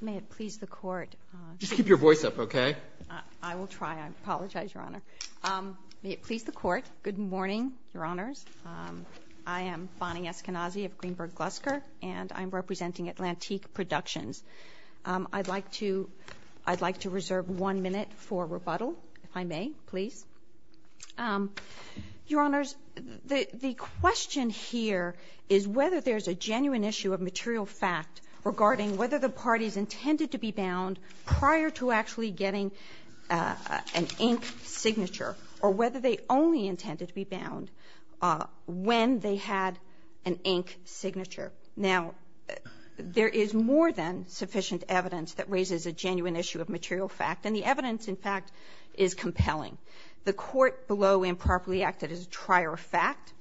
May it please the Court. Just keep your voice up, okay? I will try. I apologize, Your Honor. May it please the Court. Good morning, Your Honors. I am Bonnie Eskenazi of Greenberg Glusker, and I'm representing Atlantique Productions. I'd like to reserve one minute for rebuttal, if I may, please. Your Honors, the question here is whether there's a genuine issue of material fact regarding whether the parties intended to be bound prior to actually getting an ink signature or whether they only intended to be bound when they had an ink signature. Now, there is more than sufficient evidence that raises a genuine issue of material fact, and the evidence, in fact, is compelling. The Court below improperly acted as a trier of fact,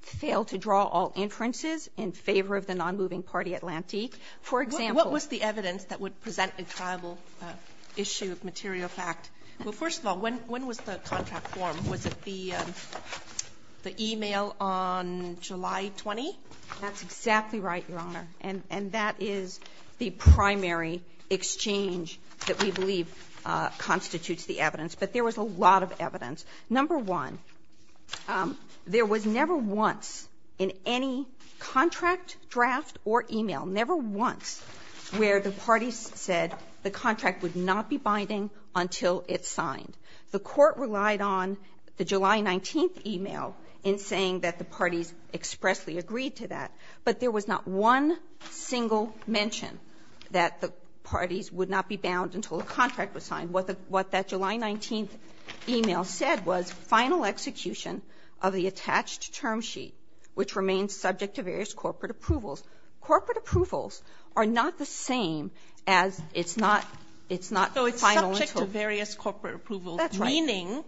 failed to draw all inferences in favor of the nonmoving party Atlantique. For example — What was the evidence that would present a triable issue of material fact? Well, first of all, when was the contract formed? Was it the email on July 20? That's exactly right, Your Honor. And that is the primary exchange that we believe constitutes the evidence. But there was a lot of evidence. Number one, there was never once in any contract, draft, or email, never once where the parties said the contract would not be binding until it's signed. The Court relied on the July 19th email in saying that the parties expressly agreed to that. But there was not one single mention that the parties would not be bound until the contract was signed. What the — what that July 19th email said was, final execution of the attached term sheet, which remains subject to various corporate approvals. Corporate approvals are not the same as it's not — it's not final until — So it's subject to various corporate approvals. That's right. Meaning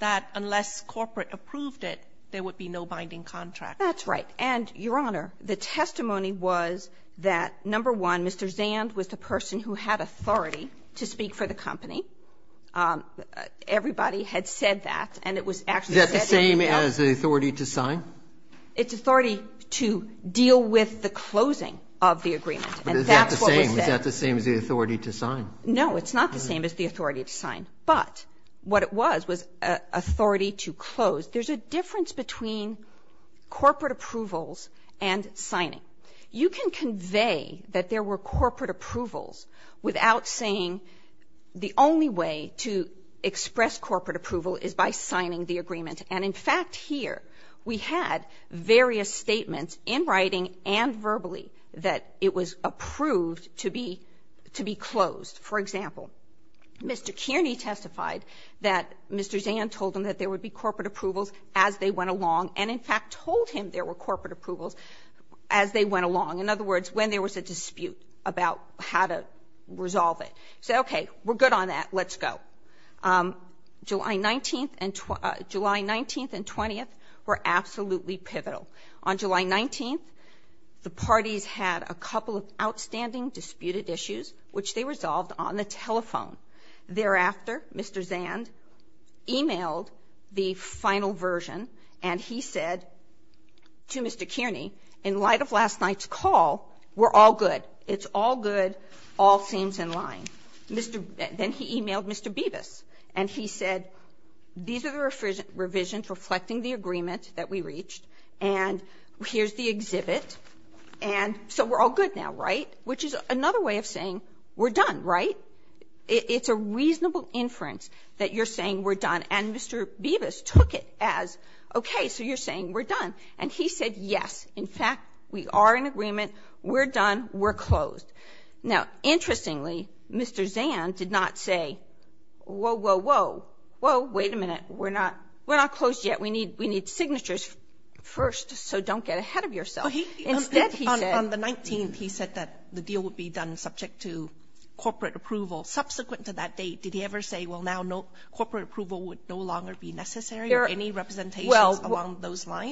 that unless corporate approved it, there would be no binding contract. That's right. And, Your Honor, the testimony was that, number one, Mr. Zand was the person who had authority to speak for the company. Everybody had said that, and it was actually said in the email. Is that the same as the authority to sign? It's authority to deal with the closing of the agreement. And that's what was said. But is that the same? Is that the same as the authority to sign? No, it's not the same as the authority to sign. But what it was was authority to close. There's a difference between corporate approvals and signing. You can convey that there were corporate approvals without saying the only way to express corporate approval is by signing the agreement. And, in fact, here we had various statements in writing and verbally that it was approved to be — to be closed. For example, Mr. Kearney testified that Mr. Zand told him that there would be corporate approvals as they went along, and, in fact, told him there were corporate approvals as they went along. In other words, when there was a dispute about how to resolve it. He said, okay, we're good on that. Let's go. July 19th and — July 19th and 20th were absolutely pivotal. On July 19th, the parties had a couple of outstanding disputed issues, which they resolved on the telephone. Thereafter, Mr. Zand emailed the final version, and he said to Mr. Kearney, in light of last night's call, we're all good. It's all good. All seems in line. Mr. — then he emailed Mr. Bibas, and he said, these are the revisions reflecting the agreement that we reached, and here's the exhibit. And so we're all good now, right? Which is another way of saying we're done, right? It's a reasonable inference that you're saying we're done. And Mr. Bibas took it as, okay, so you're saying we're done. And he said, yes. In fact, we are in agreement. We're done. We're closed. Now, interestingly, Mr. Zand did not say, whoa, whoa, whoa. Whoa, wait a minute. We're not — we're not closed yet. We need signatures first, so don't get ahead of yourself. Instead, he said — Well,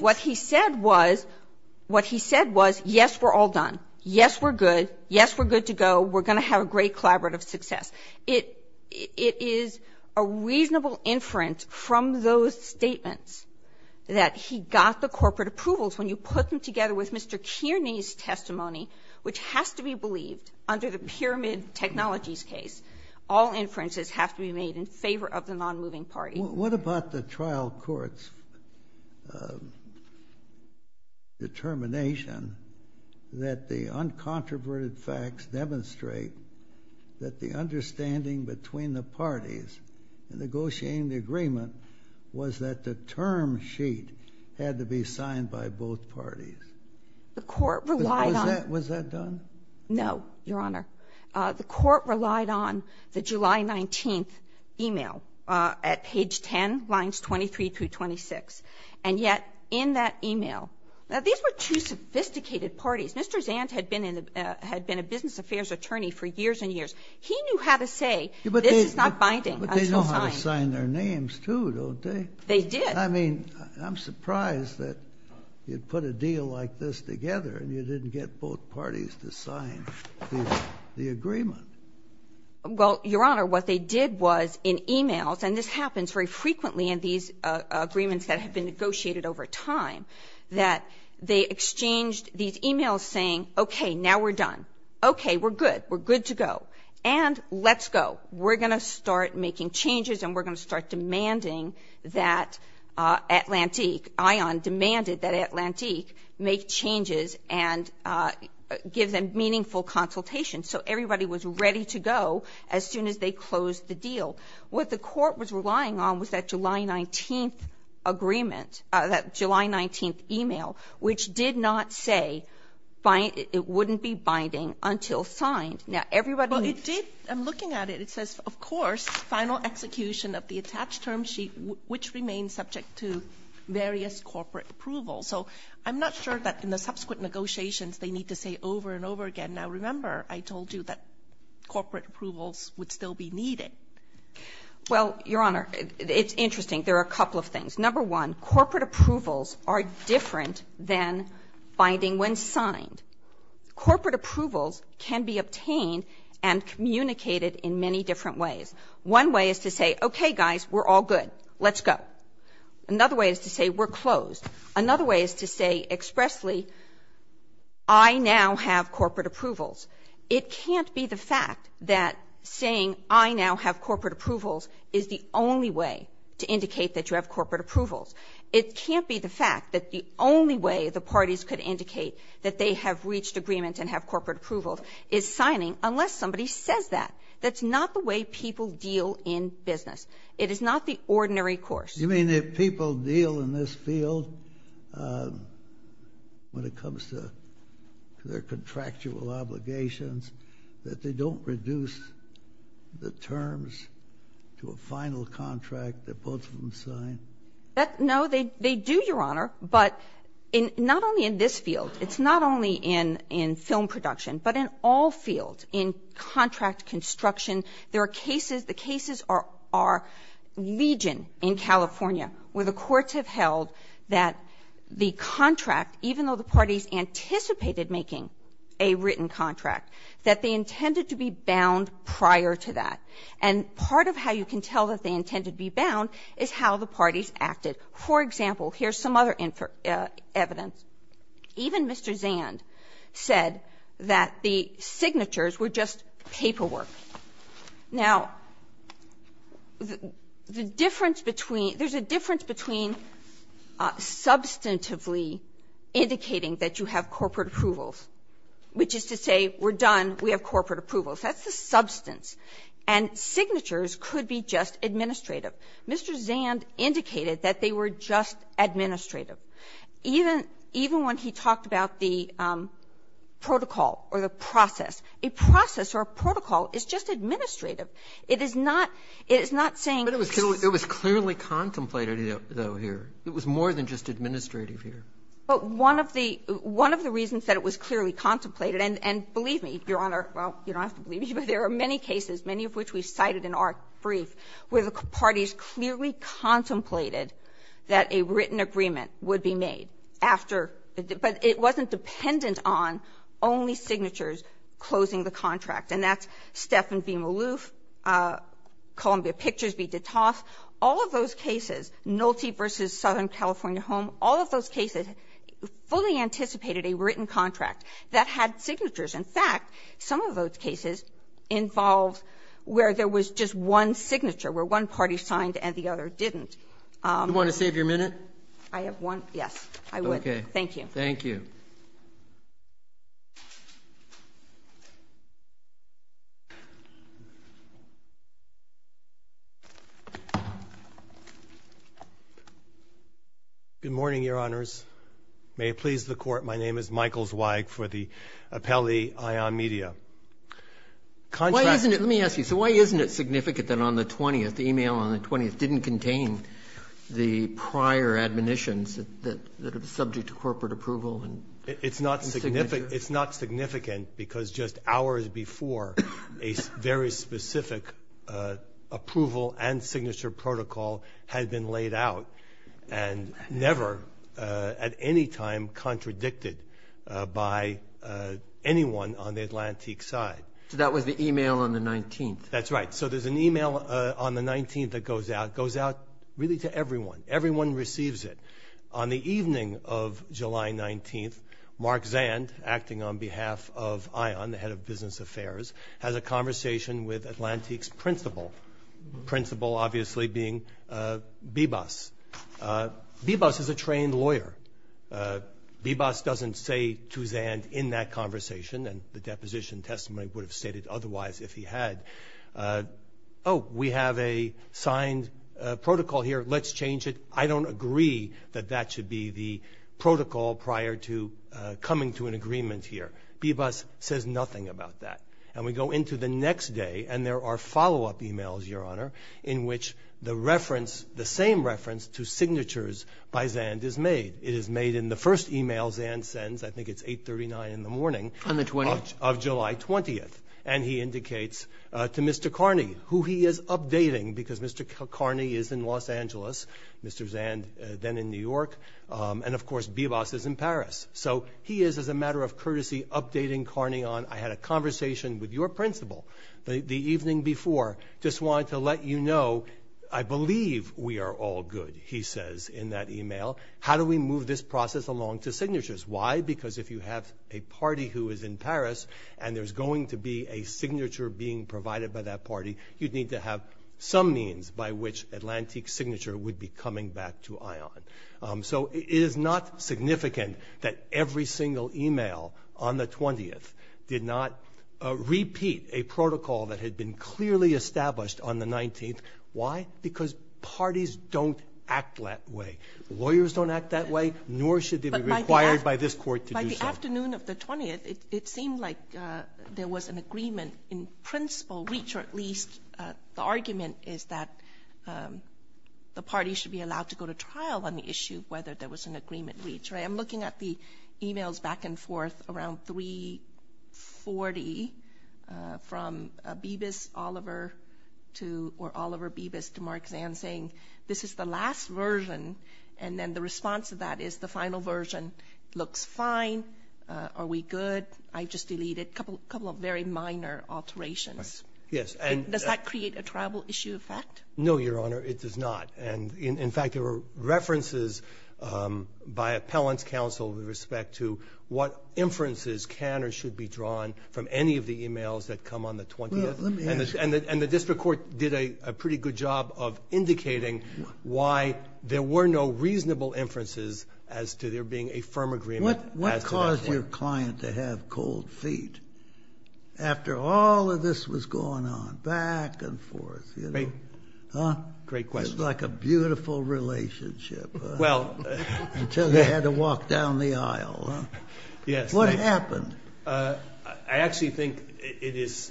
what he said was — what he said was, yes, we're all done. Yes, we're good. Yes, we're good to go. We're going to have a great collaborative success. It — it is a reasonable inference from those statements that he got the corporate approvals when you put them together with Mr. Kearney's testimony, which has to be the case. All inferences have to be made in favor of the nonmoving party. What about the trial court's determination that the uncontroverted facts demonstrate that the understanding between the parties in negotiating the agreement was that the term sheet had to be signed by both parties? The court relied on — Was that done? No, Your Honor. The court relied on the July 19th e-mail at page 10, lines 23 through 26. And yet, in that e-mail — now, these were two sophisticated parties. Mr. Zant had been in the — had been a business affairs attorney for years and years. He knew how to say, this is not binding, I shall sign. But they know how to sign their names, too, don't they? They did. I mean, I'm surprised that you'd put a deal like this together and you didn't get both parties to sign the agreement. Well, Your Honor, what they did was in e-mails, and this happens very frequently in these agreements that have been negotiated over time, that they exchanged these e-mails saying, okay, now we're done. Okay, we're good. We're good to go. And let's go. We're going to start making changes and we're going to start demanding that Atlantique ION demanded that Atlantique make changes and give them meaningful consultation so everybody was ready to go as soon as they closed the deal. What the Court was relying on was that July 19th agreement, that July 19th e-mail, which did not say it wouldn't be binding until signed. Now, everybody — Well, it did. I'm looking at it. It says, of course, final execution of the attached term sheet, which remains subject to various corporate approvals. So I'm not sure that in the subsequent negotiations they need to say over and over again. Now, remember, I told you that corporate approvals would still be needed. Well, Your Honor, it's interesting. There are a couple of things. Number one, corporate approvals are different than binding when signed. Corporate approvals can be obtained and communicated in many different ways. One way is to say, okay, guys, we're all good. Let's go. Another way is to say, we're closed. Another way is to say expressly, I now have corporate approvals. It can't be the fact that saying, I now have corporate approvals, is the only way to indicate that you have corporate approvals. It can't be the fact that the only way the parties could indicate that they have reached agreement and have corporate approvals is signing unless somebody says that. That's not the way people deal in business. It is not the ordinary course. You mean if people deal in this field when it comes to their contractual obligations, that they don't reduce the terms to a final contract that both of them sign? No, they do, Your Honor, but not only in this field. It's not only in film production, but in all fields, in contract construction. There are cases, the cases are Legion in California, where the courts have held that the contract, even though the parties anticipated making a written contract, that they intended to be bound prior to that. And part of how you can tell that they intended to be bound is how the parties acted. For example, here's some other evidence. Even Mr. Zand said that the signatures were just paperwork. Now, the difference between – there's a difference between substantively indicating that you have corporate approvals, which is to say we're done, we have corporate approvals. That's the substance. And signatures could be just administrative. Mr. Zand indicated that they were just administrative. Even when he talked about the protocol or the process, a process or a protocol is just administrative. It is not saying – But it was clearly contemplated, though, here. It was more than just administrative here. But one of the reasons that it was clearly contemplated, and believe me, Your Honor, well, you don't have to believe me, but there are many cases, many of which we cited in our brief, where the parties clearly contemplated that a written agreement would be made after – but it wasn't dependent on only signatures closing the contract. And that's Stephan v. Maloof, Columbia Pictures v. DeToff. All of those cases, Nolte v. Southern California Home, all of those cases fully anticipated a written contract that had signatures. In fact, some of those cases involved where there was just one signature, where one party signed and the other didn't. You want to save your minute? I have one – yes, I would. Okay. Thank you. Thank you. Good morning, Your Honors. May it please the Court. My name is Michael Zweig for the Appellee Ion Media. Contracts – Why isn't it – let me ask you. So why isn't it significant that on the 20th, the email on the 20th didn't contain the prior admonitions that are subject to corporate approval and signatures? It's not significant because just hours before, a very specific approval and signature protocol had been laid out and never at any time contradicted by anyone on the Atlantic side. So that was the email on the 19th. That's right. So there's an email on the 19th that goes out. It goes out really to everyone. Everyone receives it. On the evening of July 19th, Mark Zand, acting on behalf of Ion, the head of business affairs, has a conversation with Atlantique's principal. Principal, obviously, being Bebas. Bebas is a trained lawyer. Bebas doesn't say to Zand in that conversation, and the deposition testimony would have indicated otherwise if he had, oh, we have a signed protocol here. Let's change it. I don't agree that that should be the protocol prior to coming to an agreement here. Bebas says nothing about that. And we go into the next day, and there are follow-up emails, Your Honor, in which the reference – the same reference to signatures by Zand is made. It is made in the first email Zand sends. I think it's 839 in the morning. On the 20th. Of July 20th, and he indicates to Mr. Carney who he is updating because Mr. Carney is in Los Angeles, Mr. Zand then in New York, and, of course, Bebas is in Paris. So he is, as a matter of courtesy, updating Carney on, I had a conversation with your principal the evening before, just wanted to let you know, I believe we are all good, he says in that email. How do we move this process along to signatures? Why? Because if you have a party who is in Paris, and there's going to be a signature being provided by that party, you'd need to have some means by which Atlantic Signature would be coming back to ION. So it is not significant that every single email on the 20th did not repeat a protocol that had been clearly established on the 19th. Why? Because parties don't act that way. Lawyers don't act that way. Nor should they be required by this court to do so. But by the afternoon of the 20th, it seemed like there was an agreement in principle, reach, or at least the argument is that the party should be allowed to go to trial on the issue whether there was an agreement reached, right? I'm looking at the emails back and forth around 340 from Bebas Oliver to, or Oliver Bebas to Mark Zand saying, this is the last version. And then the response to that is the final version looks fine. Are we good? I just deleted a couple of very minor alterations. Yes. And does that create a tribal issue effect? No, Your Honor. It does not. And in fact, there were references by Appellant's counsel with respect to what inferences can or should be drawn from any of the emails that come on the 20th. Well, let me ask you. And the district court did a pretty good job of indicating why there were no reasonable inferences as to there being a firm agreement as to that point. What caused your client to have cold feet after all of this was going on back and forth, you know? Great question. It was like a beautiful relationship until they had to walk down the aisle. Yes. What happened? I actually think it is,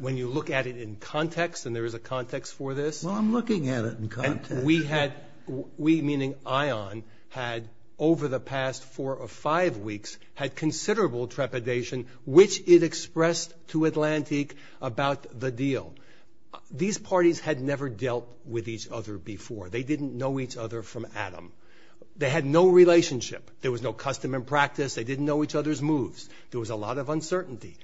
when you look at it in context, and there is a context for this. Well, I'm looking at it in context. We had, we meaning ION, had over the past four or five weeks had considerable trepidation, which it expressed to Atlantique about the deal. These parties had never dealt with each other before. They didn't know each other from Adam. They had no relationship. There was no custom and practice. They didn't know each other's moves. There was a lot of uncertainty.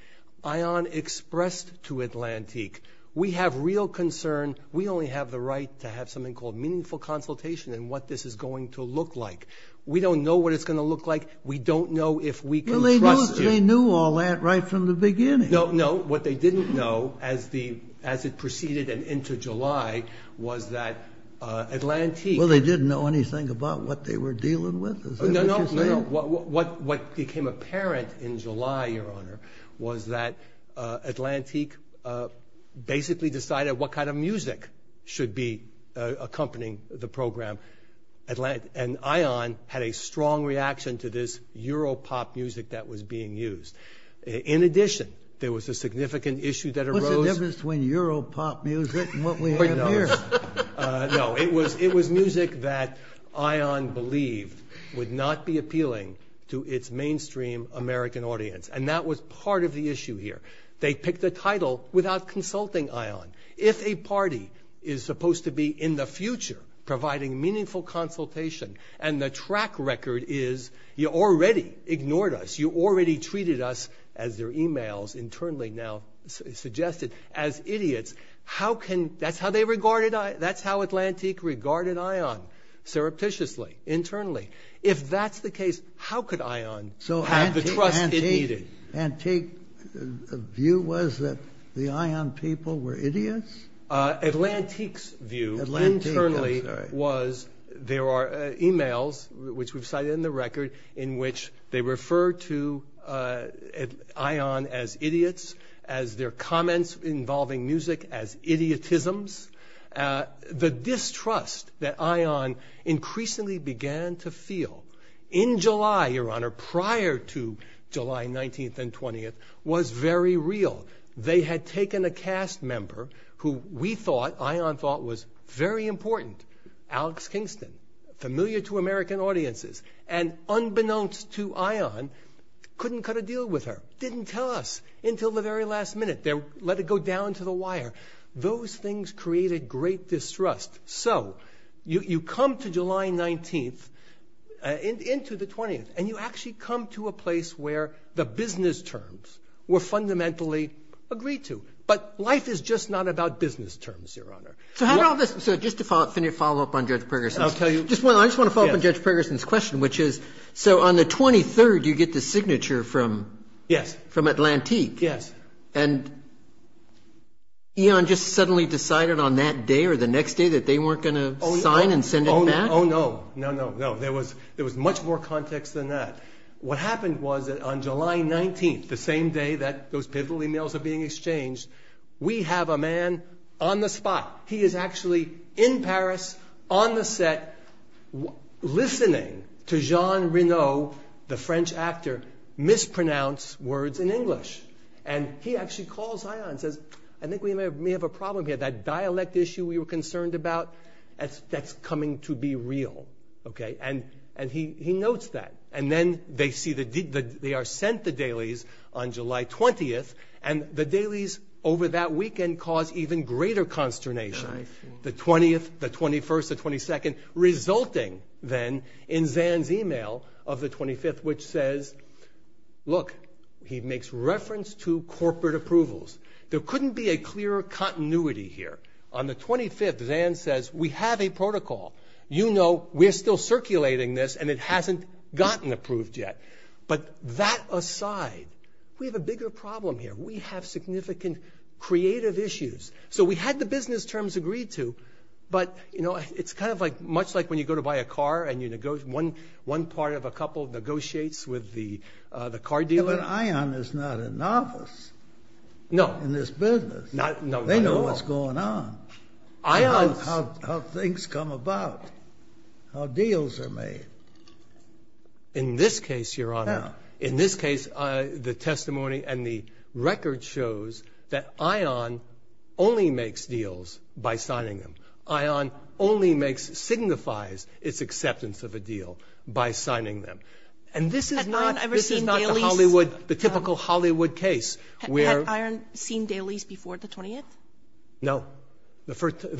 ION expressed to Atlantique, we have real concern. We only have the right to have something called meaningful consultation and what this is going to look like. We don't know what it's going to look like. We don't know if we can trust you. Well, they knew all that right from the beginning. No, no. What they didn't know as it proceeded and into July was that Atlantique. Is that what you're saying? What became apparent in July, your honor, was that Atlantique basically decided what kind of music should be accompanying the program. And ION had a strong reaction to this Europop music that was being used. In addition, there was a significant issue that arose. What's the difference between Europop music and what we have here? No. It was music that ION believed would not be appealing to its mainstream American audience. And that was part of the issue here. They picked a title without consulting ION. If a party is supposed to be in the future providing meaningful consultation and the track record is, you already ignored us. You already treated us, as their emails internally now suggested, as idiots. That's how Atlantique regarded ION, surreptitiously, internally. If that's the case, how could ION have the trust it needed? So, Atlantique's view was that the ION people were idiots? Atlantique's view internally was there are emails, which we've cited in the record, in which they refer to ION as idiots, as their comments involving music as idiotisms. The distrust that ION increasingly began to feel in July, Your Honor, prior to July 19th and 20th, was very real. They had taken a cast member who we thought, ION thought, was very important, Alex Kingston, familiar to American audiences, and unbeknownst to ION, couldn't cut a deal with her. Didn't tell us until the very last minute. They let it go down to the wire. Those things created great distrust. So, you come to July 19th, into the 20th, and you actually come to a place where the business terms were fundamentally agreed to. But life is just not about business terms, Your Honor. So, just to follow up on Judge Pergerson's question, which is, so on the 23rd, you get the signature from Atlantique. Yes. And ION just suddenly decided on that day or the next day that they weren't going to sign and send it back? Oh, no. No, no, no. There was much more context than that. What happened was that on July 19th, the same day that those pivotal emails are being exchanged, we have a man on the spot. He is actually in Paris, on the set, listening to Jean Reno, the French actor, mispronounce words in English. And he actually calls ION and says, I think we may have a problem here. That dialect issue we were concerned about, that's coming to be real. And he notes that. And then they are sent the dailies on July 20th, and the dailies over that weekend cause even greater consternation. The 20th, the 21st, the 22nd, resulting then in Zan's email of the 25th, which says, look, he makes reference to corporate approvals. There couldn't be a clearer continuity here. On the 25th, Zan says, we have a protocol. You know we're still circulating this, and it hasn't gotten approved yet. But that aside, we have a bigger problem here. We have significant creative issues. So we had the business terms agreed to, but it's kind of like much like when you go to buy a car, and one part of a couple negotiates with the car dealer. But ION is not a novice in this business. No. They know what's going on. They know how things come about, how deals are made. In this case, Your Honor, in this case, the testimony and the record shows that ION only makes deals by signing them. ION only makes, signifies its acceptance of a deal by signing them. And this is not the Hollywood, the typical Hollywood case where ---- Had ION seen dailies before the 20th? No. The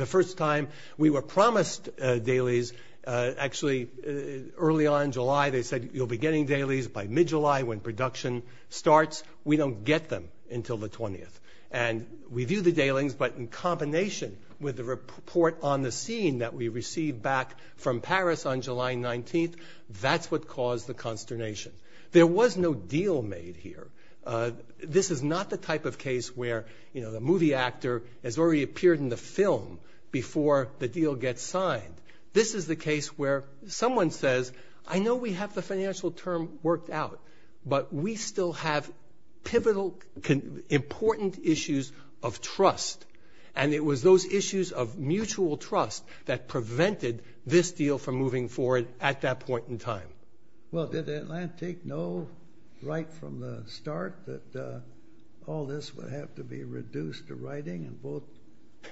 first time we were promised dailies, actually early on in July, they said, you'll be getting dailies by mid-July when production starts. We don't get them until the 20th. And we view the dailies, but in combination with the report on the scene that we received back from Paris on July 19th, that's what caused the consternation. There was no deal made here. This is not the type of case where, you know, the movie actor has already appeared in the film before the deal gets signed. This is the case where someone says, I know we have the financial term worked out, but we still have pivotal, important issues of trust. And it was those issues of mutual trust that prevented this deal from moving forward at that point in time. Well, did Atlantic know right from the start that all this would have to be reduced to writing and both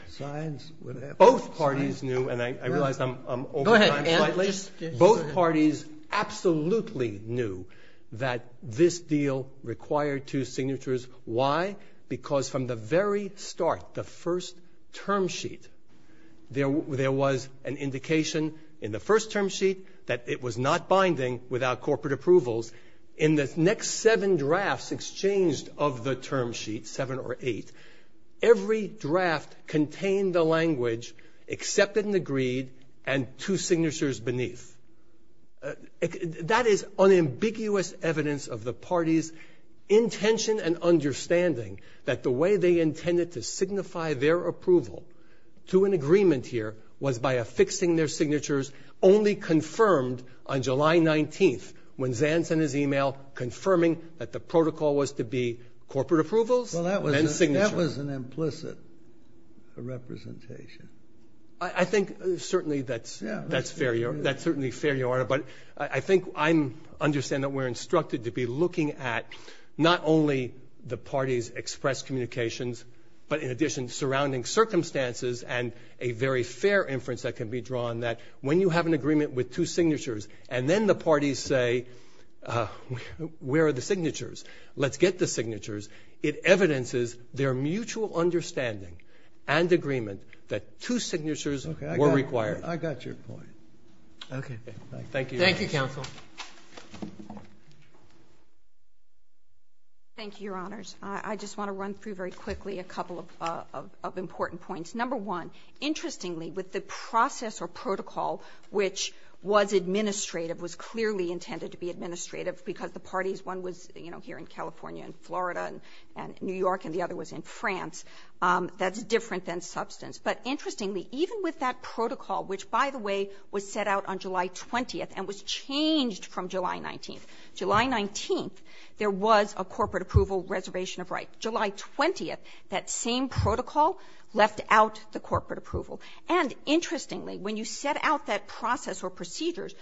sides would have to ---- Both parties knew, and I realize I'm over time slightly. Go ahead, Ant. Both parties absolutely knew that this deal required two signatures. Why? Because from the very start, the first term sheet, there was an indication in the first term sheet that it was not binding without corporate approvals. In the next seven drafts exchanged of the term sheet, seven or eight, every draft contained the language, except in the greed and two signatures beneath. That is unambiguous evidence of the parties' intention and understanding that the way they intended to signify their approval to an agreement here was by affixing their signatures, only confirmed on July 19th when Zan sent his e-mail confirming that the protocol was to be corporate approvals and signature. Well, that was an implicit representation. I think certainly that's fair. That's certainly fair, Your Honor. But I think I understand that we're instructed to be looking at not only the parties' expressed communications, but in addition surrounding circumstances and a very fair inference that can be drawn that when you have an agreement with two signatures and then the parties say, where are the signatures, let's get the signatures, it evidences their mutual understanding and agreement that two signatures were required. I got your point. Okay. Thank you. Thank you, counsel. Thank you, Your Honors. I just want to run through very quickly a couple of important points. Number one, interestingly, with the process or protocol which was administrative, was clearly intended to be administrative because the parties, one was, you know, here in California and Florida and New York and the other was in France, that's different than substance, but interestingly, even with that protocol, which, by the way, was set out on July 20th and was changed from July 19th. July 19th, there was a corporate approval reservation of rights. July 20th, that same protocol left out the corporate approval. And interestingly, when you set out that process or procedures,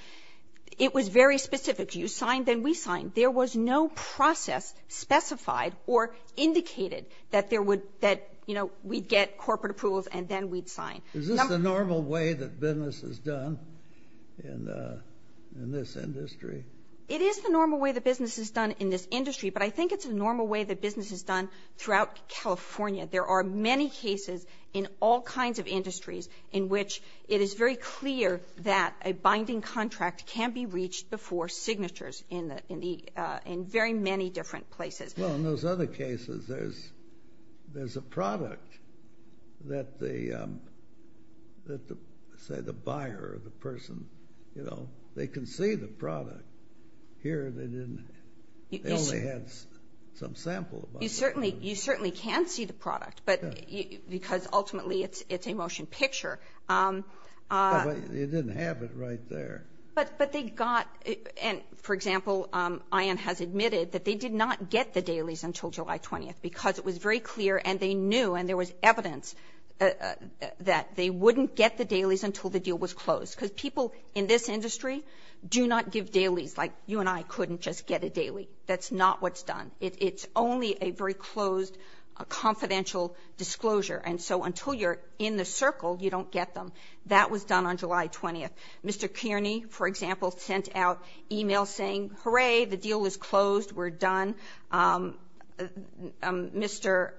it was very specific. You signed, then we signed. There was no process specified or indicated that there would, that, you know, we'd get corporate approvals and then we'd sign. Is this the normal way that business is done in this industry? It is the normal way that business is done in this industry, but I think it's the normal way that business is done throughout California. There are many cases in all kinds of industries in which it is very clear that a binding contract can be reached before signatures in very many different places. Well, in those other cases, there's a product that the, say, the buyer or the person, you know, they can see the product. Here, they didn't. They only had some sample. You certainly can see the product, but because ultimately it's a motion picture. You didn't have it right there. But they got, and for example, Ayan has admitted that they did not get the dailies until July 20th because it was very clear and they knew and there was evidence that they wouldn't get the dailies until the deal was closed. Because people in this industry do not give dailies. Like, you and I couldn't just get a daily. That's not what's done. It's only a very closed, confidential disclosure. And so until you're in the circle, you don't get them. That was done on July 20th. Mr. Kearney, for example, sent out e-mails saying, hooray, the deal is closed, we're done. Mr.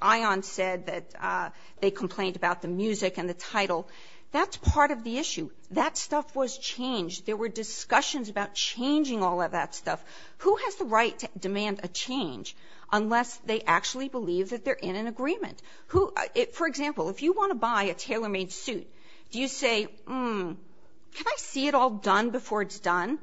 Ayan said that they complained about the music and the title. That's part of the issue. That stuff was changed. There were discussions about changing all of that stuff. Who has the right to demand a change unless they actually believe that they're in an agreement? For example, if you want to buy a tailor-made suit, do you say, can I see it all done before it's done?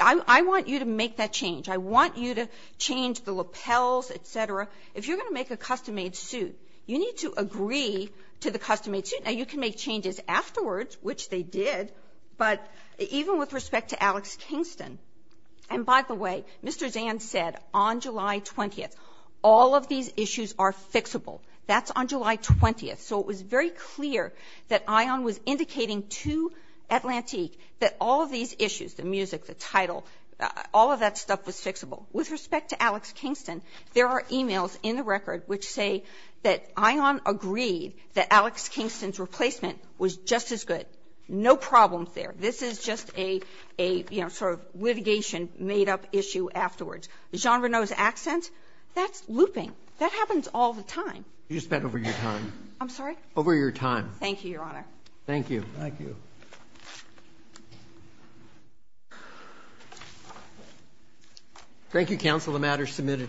I want you to make that change. I want you to change the lapels, et cetera. If you're going to make a custom-made suit, you need to agree to the custom-made suit. Now, you can make changes afterwards, which they did, but even with respect to Alex Kingston, and by the way, Mr. Zand said on July 20th, all of these issues are fixable. That's on July 20th. So it was very clear that Ayan was indicating to Atlantique that all of these issues, the music, the title, all of that stuff was fixable. With respect to Alex Kingston, there are e-mails in the record which say that Ayan agreed that Alex Kingston's replacement was just as good. No problems there. This is just a, you know, sort of litigation made-up issue afterwards. Jean Reneau's accent, that's looping. That happens all the time. You spent over your time. I'm sorry? Over your time. Thank you, Your Honor. Thank you. Thank you. Thank you, counsel. The matter is submitted.